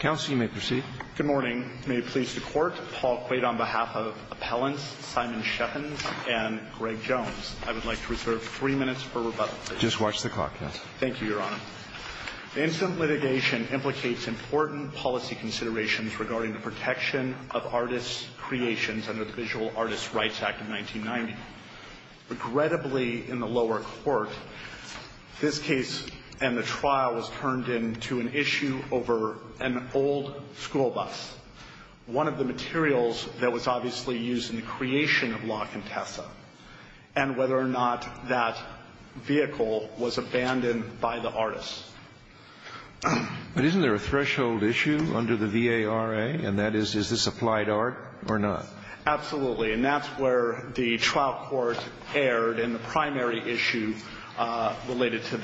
Good morning. May it please the Court, Paul Quaid on behalf of Appellants Simon Cheffins and Greg Jones. I would like to reserve three minutes for rebuttal. Just watch the clock, yes. Thank you, Your Honor. The incident litigation implicates important policy considerations regarding the protection of artists' creations under the Visual Artist Rights Act of 1990. Regrettably, in the lower court, this case and the trial was turned into an issue over an old school bus. One of the materials that was obviously used in the creation of Locke and Tessa, and whether or not that vehicle was abandoned by the artists. But isn't there a threshold issue under the V.A.R.A.? And that is, is this applied art or not? Absolutely. And that's where the trial court erred in the primary issue related to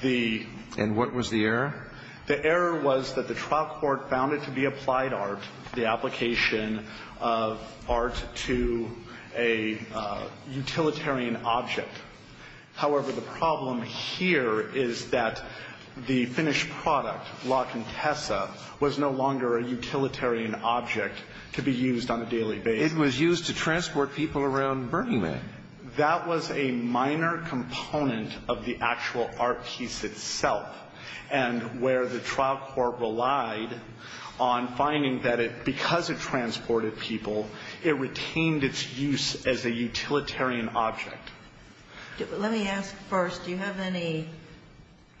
the... And what was the error? The error was that the trial court found it to be applied art, the application of art to a utilitarian object. However, the problem here is that the finished product, Locke and Tessa, was no longer a utilitarian object to be used on a daily basis. It was used to transport people around Burning Man. And that was a minor component of the actual art piece itself. And where the trial court relied on finding that it, because it transported people, it retained its use as a utilitarian object. Let me ask first, do you have any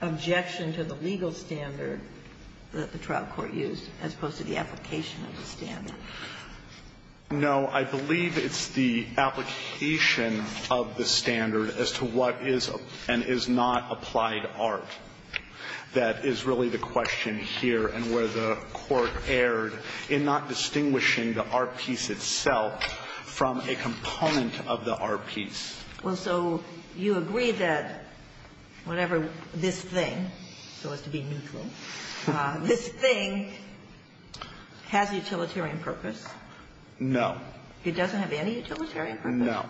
objection to the legal standard that the trial court used, as opposed to the application of the standard? No. I believe it's the application of the standard as to what is and is not applied art. That is really the question here and where the court erred in not distinguishing the art piece itself from a component of the art piece. Well, so you agree that whatever this thing, so as to be meekly, this thing has utilitarian purpose? No. It doesn't have any utilitarian purpose? No.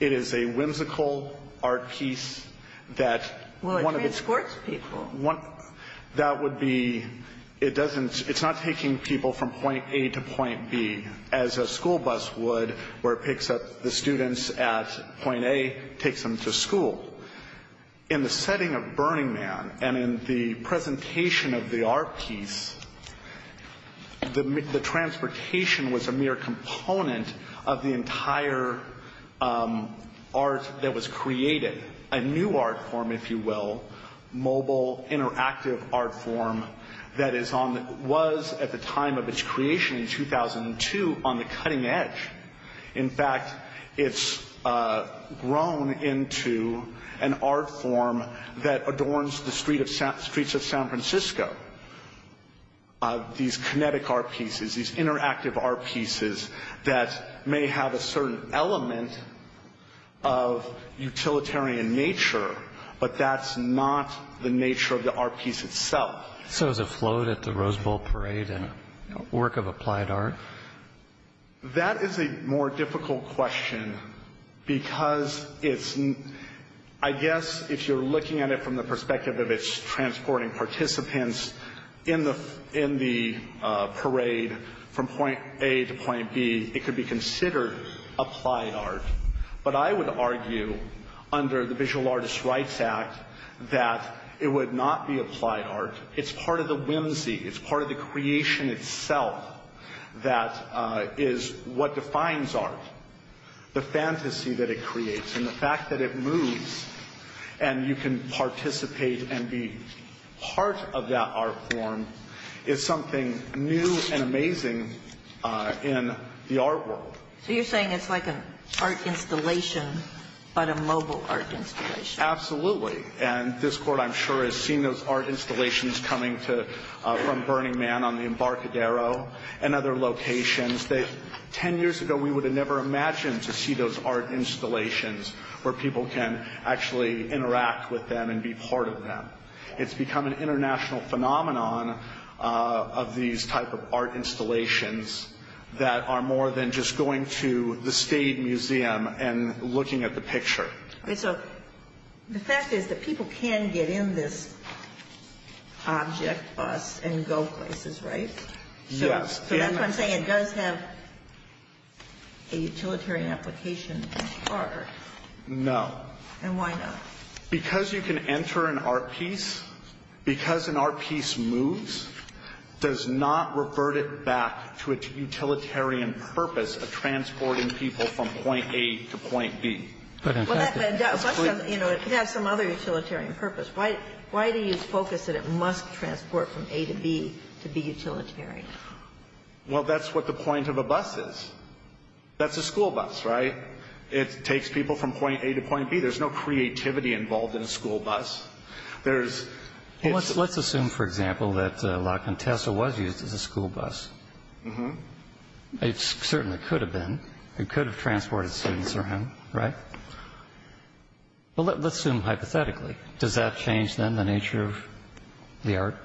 It is a whimsical art piece that... Well, it transports people. That would be, it doesn't, it's not taking people from point A to point B as a school bus would, where it picks up the students at point A, takes them to school. In the setting of Burning Man and in the presentation of the art piece, the transportation was a mere component of the entire art that was created. A new art form, if you will, mobile, interactive art form that is on, was at the time of its creation in 2002 on the cutting edge. In fact, it's grown into an art form that adorns the streets of San Francisco. These kinetic art pieces, these interactive art pieces that may have a certain element of utilitarian nature, but that's not the nature of the art piece itself. So is a float at the Rose Bowl Parade a work of applied art? That is a more difficult question because it's, I guess, if you're looking at it from the perspective of its transporting participants in the parade from point A to point B, it could be considered applied art. But I would argue under the Visual Artist Rights Act that it would not be applied art. It's part of the whimsy. It's part of the creation itself that is what defines art, the fantasy that it creates and the fact that it moves and you can participate and be part of that art form is something new and amazing in the art world. So you're saying it's like an art installation but a mobile art installation? Absolutely. And this Court, I'm sure, has seen those art installations coming from Burning Man on the Embarcadero and other locations that 10 years ago we would have never imagined to see those art installations where people can actually interact with them and be part of them. It's become an international phenomenon of these type of art installations that are more than just going to the state museum and looking at the picture. So the fact is that people can get in this object bus and go places, right? Yes. So that's why I'm saying it does have a utilitarian application. No. And why not? Because you can enter an art piece, because an art piece moves, does not revert it back to a utilitarian purpose of transporting people from point A to point B. It could have some other utilitarian purpose. Why do you focus that it must transport from A to B to be utilitarian? Well, that's what the point of a bus is. That's a school bus, right? It takes people from point A to point B. There's no creativity involved in a school bus. Let's assume, for example, that La Contessa was used as a school bus. It certainly could have been. It could have transported students around, right? But let's assume hypothetically. Does that change, then, the nature of the art?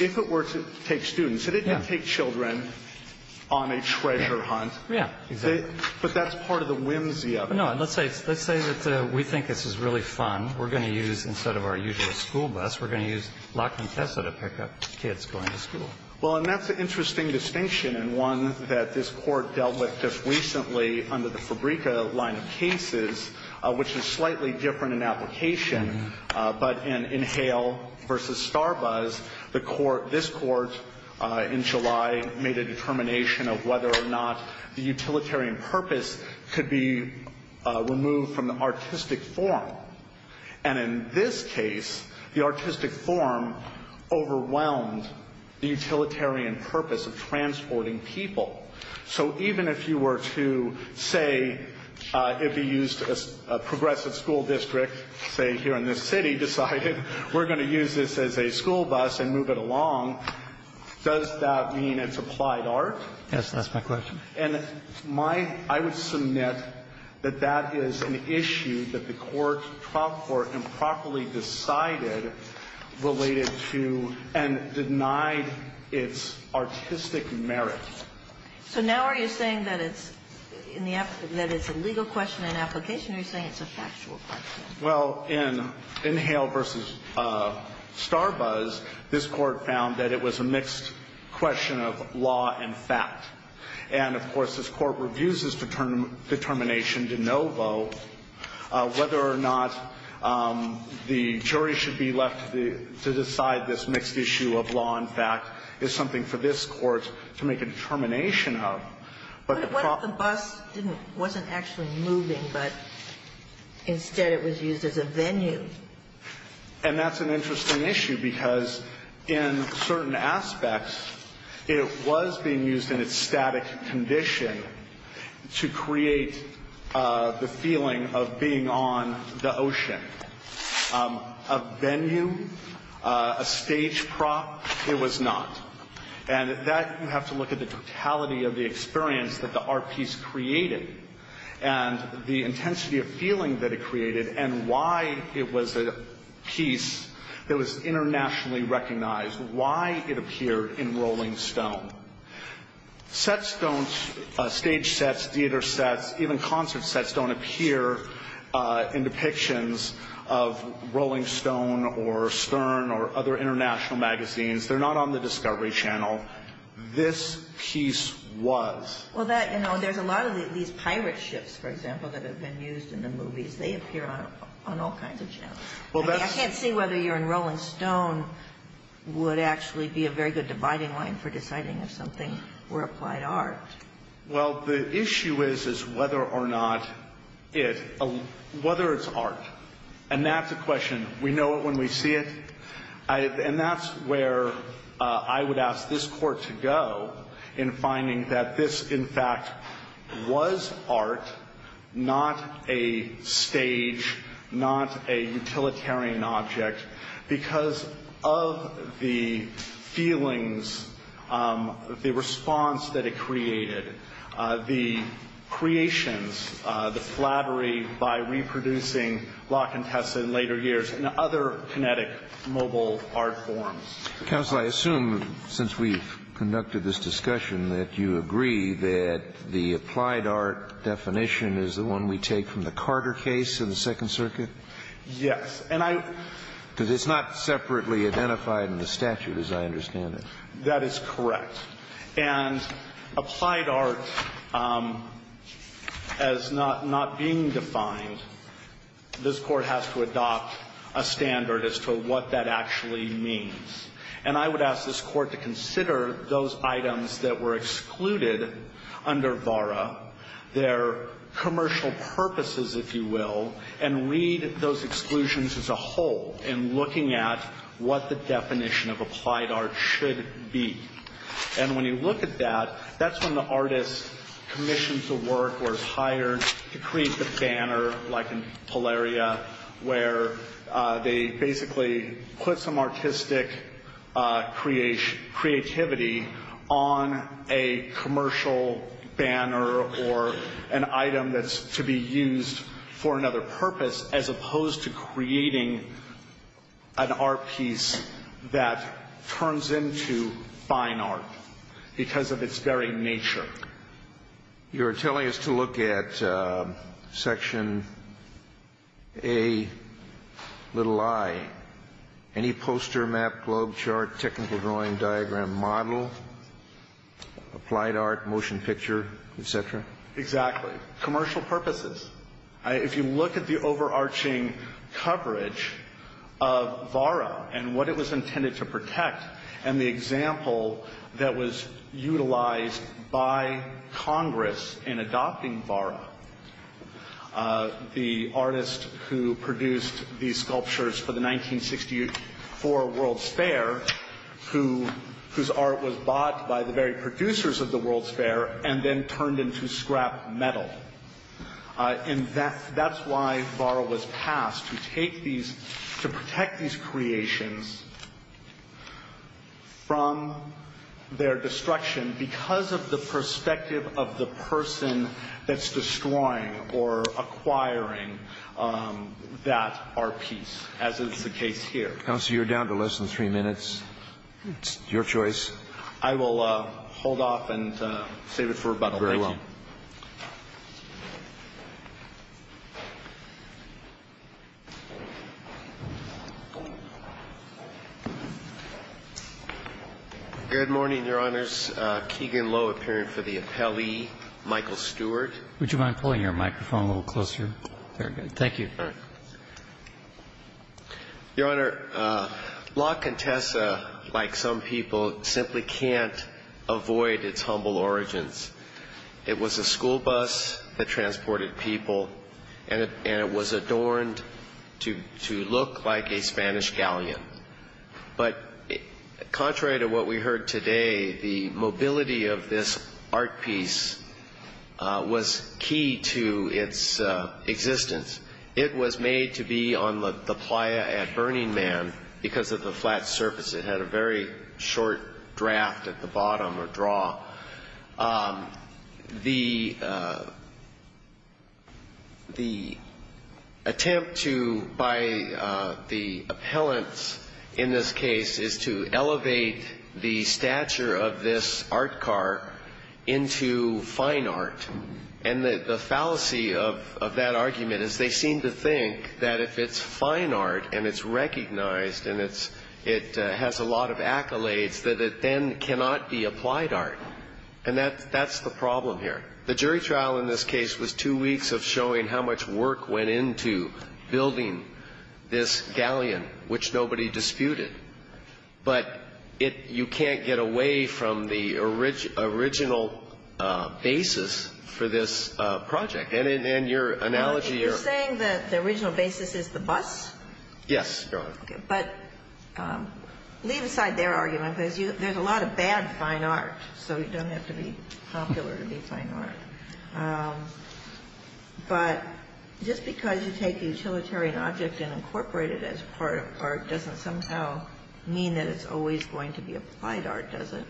If it were to take students, and it did take children on a treasure hunt. Yeah, exactly. But that's part of the whimsy of it. No, and let's say that we think this is really fun. We're going to use, instead of our usual school bus, we're going to use La Contessa to pick up kids going to school. Well, and that's an interesting distinction, and one that this Court dealt with just recently under the Fabrica line of cases, which is slightly different in application. But in Hale v. Starbuzz, this Court in July made a determination of whether or not the utilitarian purpose could be removed from the artistic form. And in this case, the artistic form overwhelmed the utilitarian purpose of transporting people. So even if you were to say if you used a progressive school district, say here in this city, decided we're going to use this as a school bus and move it along, does that mean it's applied art? Yes, that's my question. And my ‑‑ I would submit that that is an issue that the court, trial court, improperly decided related to and denied its artistic merit. So now are you saying that it's a legal question in application, or are you saying it's a factual question? Well, in Hale v. Starbuzz, this Court found that it was a mixed question of law and fact. And, of course, this Court reviews this determination de novo. Whether or not the jury should be left to decide this mixed issue of law and fact is something for this Court to make a determination of. But the ‑‑ But what if the bus didn't ‑‑ wasn't actually moving, but instead it was used as a venue? And that's an interesting issue, because in certain aspects, it was being used in its static condition to create the feeling of being on the ocean. A venue, a stage prop, it was not. And that you have to look at the totality of the experience that the art piece created and the intensity of feeling that it created and why it was a piece that was internationally recognized, why it appeared in Rolling Stone. Sets don't ‑‑ stage sets, theater sets, even concert sets don't appear in depictions of Rolling Stone or Stern or other international magazines. They're not on the Discovery Channel. This piece was. Well, that, you know, there's a lot of these pirate ships, for example, that have been used in the movies. They appear on all kinds of channels. I can't see whether you're in Rolling Stone would actually be a very good dividing line for deciding if something were applied art. Well, the issue is, is whether or not it ‑‑ whether it's art. And that's a question. We know it when we see it. And that's where I would ask this court to go in finding that this, in fact, was art, not a stage, not a utilitarian object, because of the feelings, the response that it created, the creations, the flattery by reproducing La Contessa in later years and other kinetic mobile art forms. Counsel, I assume, since we've conducted this discussion, that you agree that the applied art definition is the one we take from the Carter case in the Second Circuit? Yes. And I ‑‑ Because it's not separately identified in the statute, as I understand it. That is correct. And applied art as not being defined, this court has to adopt a standard as to what that actually means. And I would ask this court to consider those items that were excluded under VARA, their commercial purposes, if you will, and read those exclusions as a whole in looking at what the definition of applied art should be. And when you look at that, that's when the artist commissions the work or is hired to create the banner, like in Polaria, where they basically put some artistic creativity on a commercial banner or an item that's to be used for another purpose, as opposed to creating an art piece that turns into fine art because of its very nature. You're telling us to look at Section A, little i. Any poster, map, globe, chart, technical drawing, diagram, model, applied art, motion picture, et cetera? Exactly. Commercial purposes. If you look at the overarching coverage of VARA and what it was intended to protect and the example that was utilized by Congress in adopting VARA, the artist who produced these sculptures for the 1964 World's Fair, whose art was bought by the very producers of the World's Fair and then turned into scrap metal. And that's why VARA was passed, to protect these creations from their destruction because of the perspective of the person that's destroying or acquiring that art piece, as is the case here. Counsel, you're down to less than three minutes. It's your choice. I will hold off and save it for about 30. Very well. Good morning, Your Honors. Keegan Lowe, appearing for the appellee. Michael Stewart. Would you mind pulling your microphone a little closer? Very good. Thank you. Your Honor, Locke and Tessa, like some people, simply can't avoid its humble origins. It was a school bus that transported people, and it was adorned to look like a Spanish galleon. But contrary to what we heard today, the mobility of this art piece was key to its existence. It was made to be on the playa at Burning Man because of the flat surface. It had a very short draft at the bottom or draw. The attempt by the appellants in this case is to elevate the stature of this art car into fine art. And the fallacy of that argument is they seem to think that if it's fine art and it's recognized and it has a lot of accolades, that it then cannot be applied art. And that's the problem here. The jury trial in this case was two weeks of showing how much work went into building this galleon, which nobody disputed. But you can't get away from the original basis for this project. And in your analogy, you're – You're saying that the original basis is the bus? Yes, Your Honor. Okay. But leave aside their argument because there's a lot of bad fine art, so you don't have to be popular to be fine art. But just because you take the utilitarian object and incorporate it as part of art doesn't somehow mean that it's always going to be applied art, does it?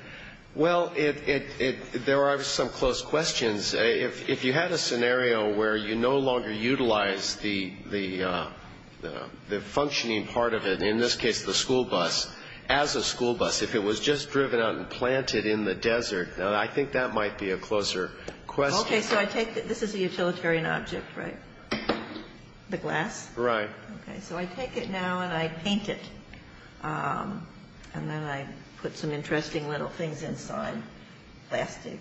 Well, there are some close questions. If you had a scenario where you no longer utilize the functioning part of it, in this case the school bus, as a school bus, if it was just driven out and planted in the desert, now I think that might be a closer question. Okay. So I take – this is a utilitarian object, right? The glass? Right. Okay. So I take it now and I paint it, and then I put some interesting little things inside, plastic,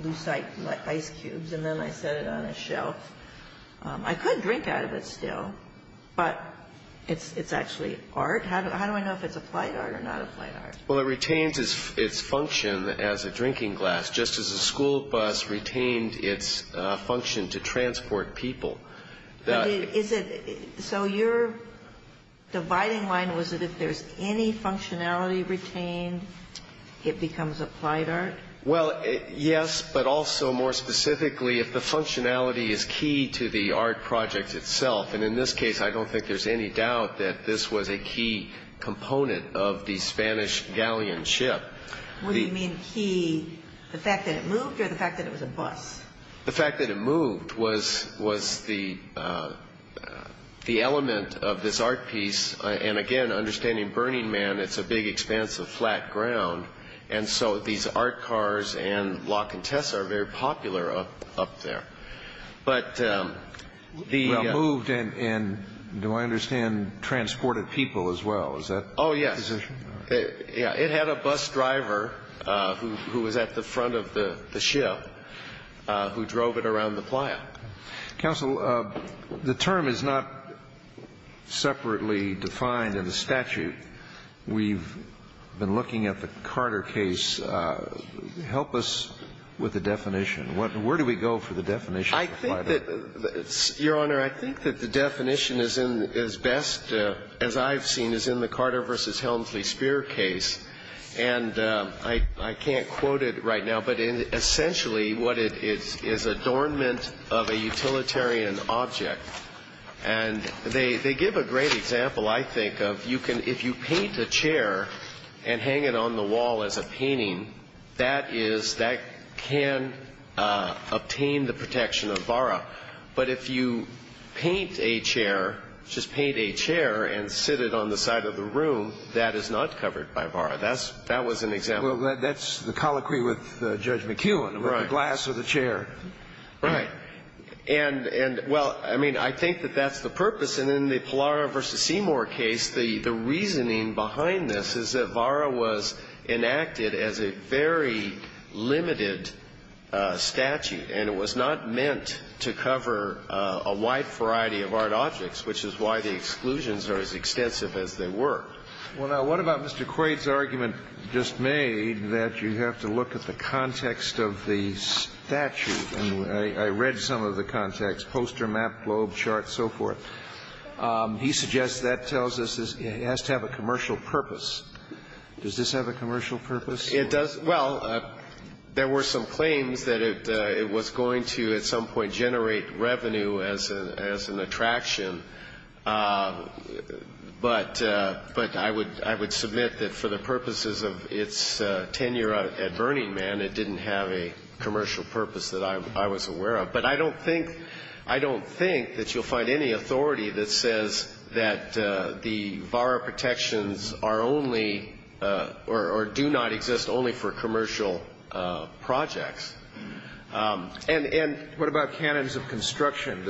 loose ice cubes, and then I set it on a shelf. I could drink out of it still, but it's actually art. How do I know if it's applied art or not applied art? Well, it retains its function as a drinking glass, just as a school bus retained its function to transport people. So your dividing line was that if there's any functionality retained, it becomes applied art? Well, yes, but also more specifically, if the functionality is key to the art project itself, and in this case I don't think there's any doubt that this was a key component of the Spanish galleon ship. What do you mean key? The fact that it moved or the fact that it was a bus? The fact that it moved was the element of this art piece, and again, understanding Burning Man, it's a big, expansive, flat ground, and so these art cars and lock and tests are very popular up there. Well, moved, and do I understand transported people as well? Oh, yes. It had a bus driver who was at the front of the ship who drove it around the playa. Counsel, the term is not separately defined in the statute. We've been looking at the Carter case. Help us with the definition. Where do we go for the definition? Your Honor, I think that the definition is best, as I've seen, is in the Carter v. Helmsley Spear case, and I can't quote it right now, but essentially what it is is adornment of a utilitarian object, and they give a great example, I think, of if you paint a chair and hang it on the wall as a painting, that can obtain the protection of VARA, but if you paint a chair, just paint a chair and sit it on the side of the room, that is not covered by VARA. That was an example. Well, that's the colloquy with Judge McKeown with the glass of the chair. Right. And, well, I mean, I think that that's the purpose, and in the Pallara v. Seymour case, the reasoning behind this is that VARA was enacted as a very limited statute, and it was not meant to cover a wide variety of art objects, which is why the exclusions are as extensive as they were. Well, now, what about Mr. Quaid's argument just made that you have to look at the context of the statute? And I read some of the context, poster, map, globe, chart, so forth. He suggests that tells us it has to have a commercial purpose. Does this have a commercial purpose? It does. Well, there were some claims that it was going to at some point generate revenue as an attraction, but I would submit that for the purposes of its tenure at Burning Man, it didn't have a commercial purpose that I was aware of. But I don't think that you'll find any authority that says that the VARA protections are only or do not exist only for commercial projects. And what about cannons of construction?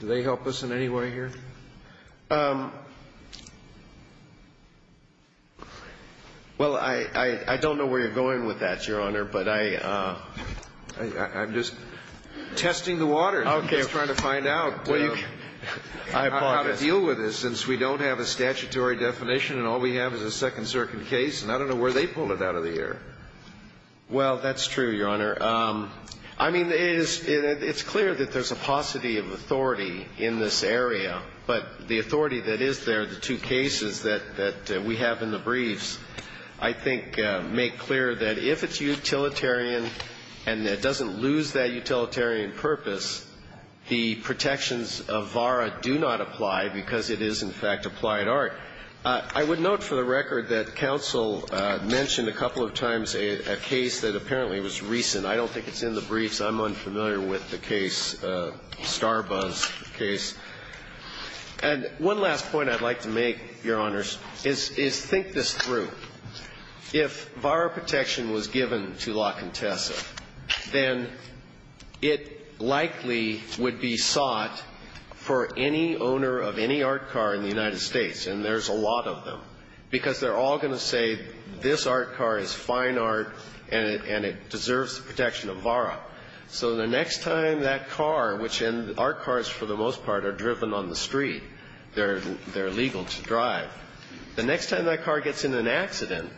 Do they help us in any way here? Well, I don't know where you're going with that, Your Honor, but I'm just testing the water. Okay. I'm just trying to find out how to deal with this, since we don't have a statutory definition and all we have is a Second Circuit case, and I don't know where they pulled it out of the air. Well, that's true, Your Honor. I mean, it's clear that there's a paucity of authority in this area, but the authority that is there, the two cases that we have in the briefs, I think make clear that if it's utilitarian and it doesn't lose that utilitarian purpose, the protections of VARA do not apply because it is, in fact, applied art. I would note for the record that counsel mentioned a couple of times a case that apparently was recent. I don't think it's in the briefs. I'm unfamiliar with the case, Starbuzz case. And one last point I'd like to make, Your Honors, is think this through. If VARA protection was given to La Contessa, then it likely would be sought for any owner of any art car in the United States, and there's a lot of them, because they're all going to say this art car is fine art and it deserves the protection of VARA. So the next time that car, which art cars for the most part are driven on the street, they're legal to drive. The next time that car gets in an accident,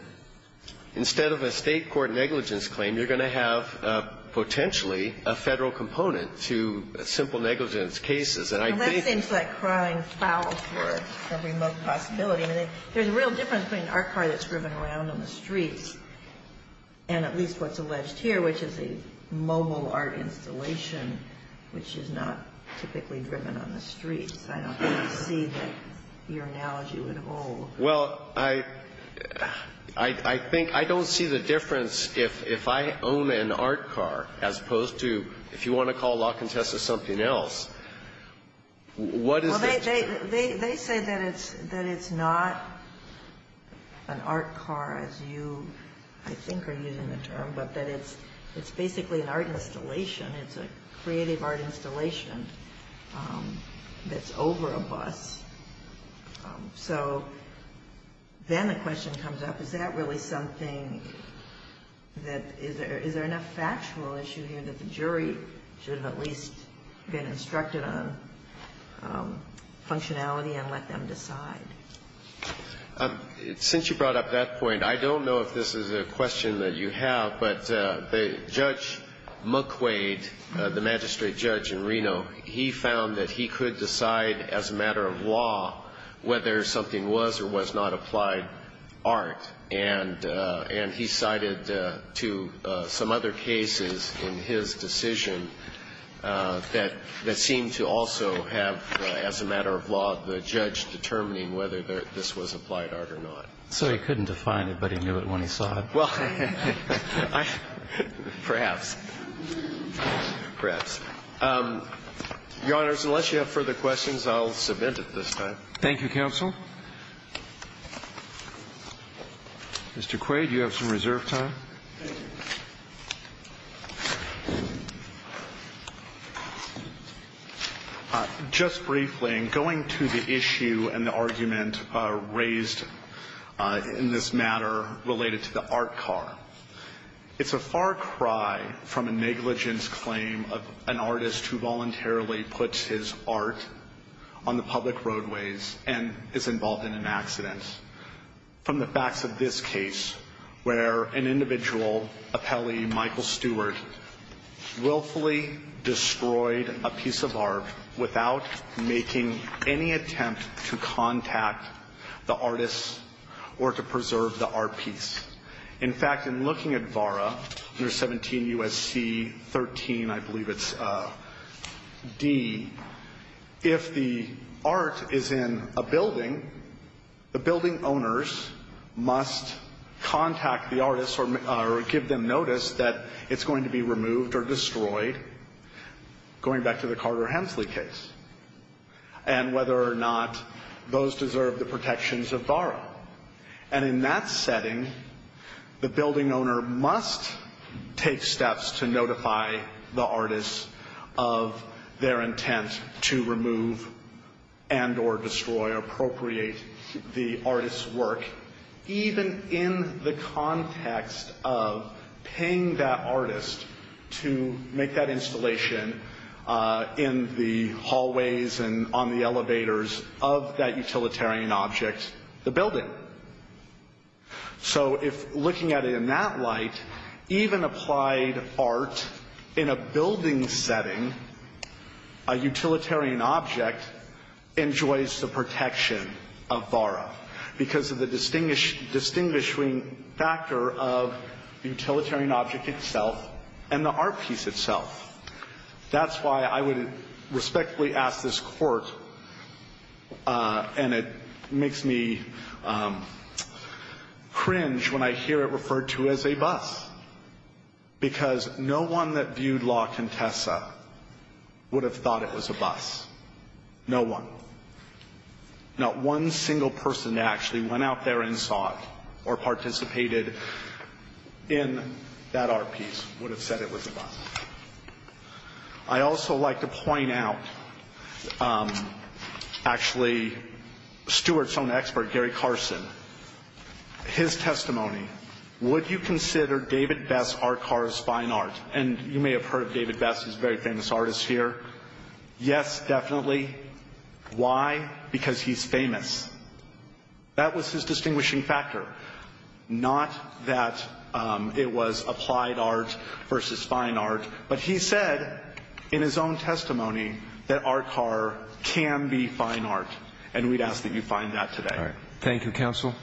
instead of a state court negligence claim, you're going to have potentially a Federal component to simple negligence And I think that's the case. And that seems like crying foul for a remote possibility. I mean, there's a real difference between an art car that's driven around on the streets and at least what's alleged here, which is a mobile art installation, which is not typically driven on the streets. I don't see that your analogy would hold. Well, I think I don't see the difference if I own an art car, as opposed to if you want to call La Contessa something else. What is the difference? Well, they say that it's not an art car, as you, I think, are using the term, but that it's basically an art installation. It's a creative art installation that's over a bus. So, then the question comes up, is that really something that, is there enough factual issue here that the jury should have at least been instructed on functionality and let them decide? Since you brought up that point, I don't know if this is a question that you have, but Judge McQuaid, the magistrate judge in Reno, he found that he could decide, as a matter of law, whether something was or was not applied art. And he cited to some other cases in his decision that seemed to also have, as a matter of law, the judge determining whether this was applied art or not. So, he couldn't define it, but he knew it when he saw it. Well, perhaps. Perhaps. Your Honors, unless you have further questions, I'll submit at this time. Thank you, counsel. Mr. Quaid, you have some reserve time. Thank you. Just briefly, in going to the issue and the argument raised in this matter related to the art car, it's a far cry from a negligence claim of an artist who voluntarily puts his art on the public roadways and is involved in an accident. From the facts of this case, where an individual, a Pele, Michael Stewart, willfully destroyed a piece of art without making any attempt to contact the artist or to preserve the art piece. In fact, in looking at VARA, under 17 U.S.C. 13, I believe it's D, if the art is in a building, the building owners must contact the artist or give them notice that it's going to be removed or destroyed, going back to the Carter-Hemsley case, and whether or not those deserve the protections of VARA. And in that setting, the building owner must take steps to notify the artist of their intent to remove and or destroy or appropriate the artist's work, even in the context of paying that artist to make that installation in the hallways and on the elevators of that utilitarian object, the building. So if looking at it in that light, even applied art in a building setting, a utilitarian object, enjoys the protection of VARA because of the distinguishing factor of the utilitarian object itself and the art piece itself. That's why I would respectfully ask this court, and it makes me cringe when I hear it referred to as a bus, because no one that viewed La Contessa would have thought it was a bus. No one. Not one single person that actually went out there and saw it or participated in that art piece would have said it was a bus. I'd also like to point out, actually, Stuart's own expert, Gary Carson, his testimony. Would you consider David Best's art car as fine art? And you may have heard of David Best. He's a very famous artist here. Yes, definitely. Why? Because he's famous. That was his distinguishing factor. Not that it was applied art versus fine art, but he said in his own testimony that art car can be fine art, and we'd ask that you find that today. Thank you, counsel.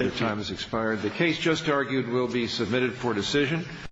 Your time has expired. The case just argued will be submitted for decision.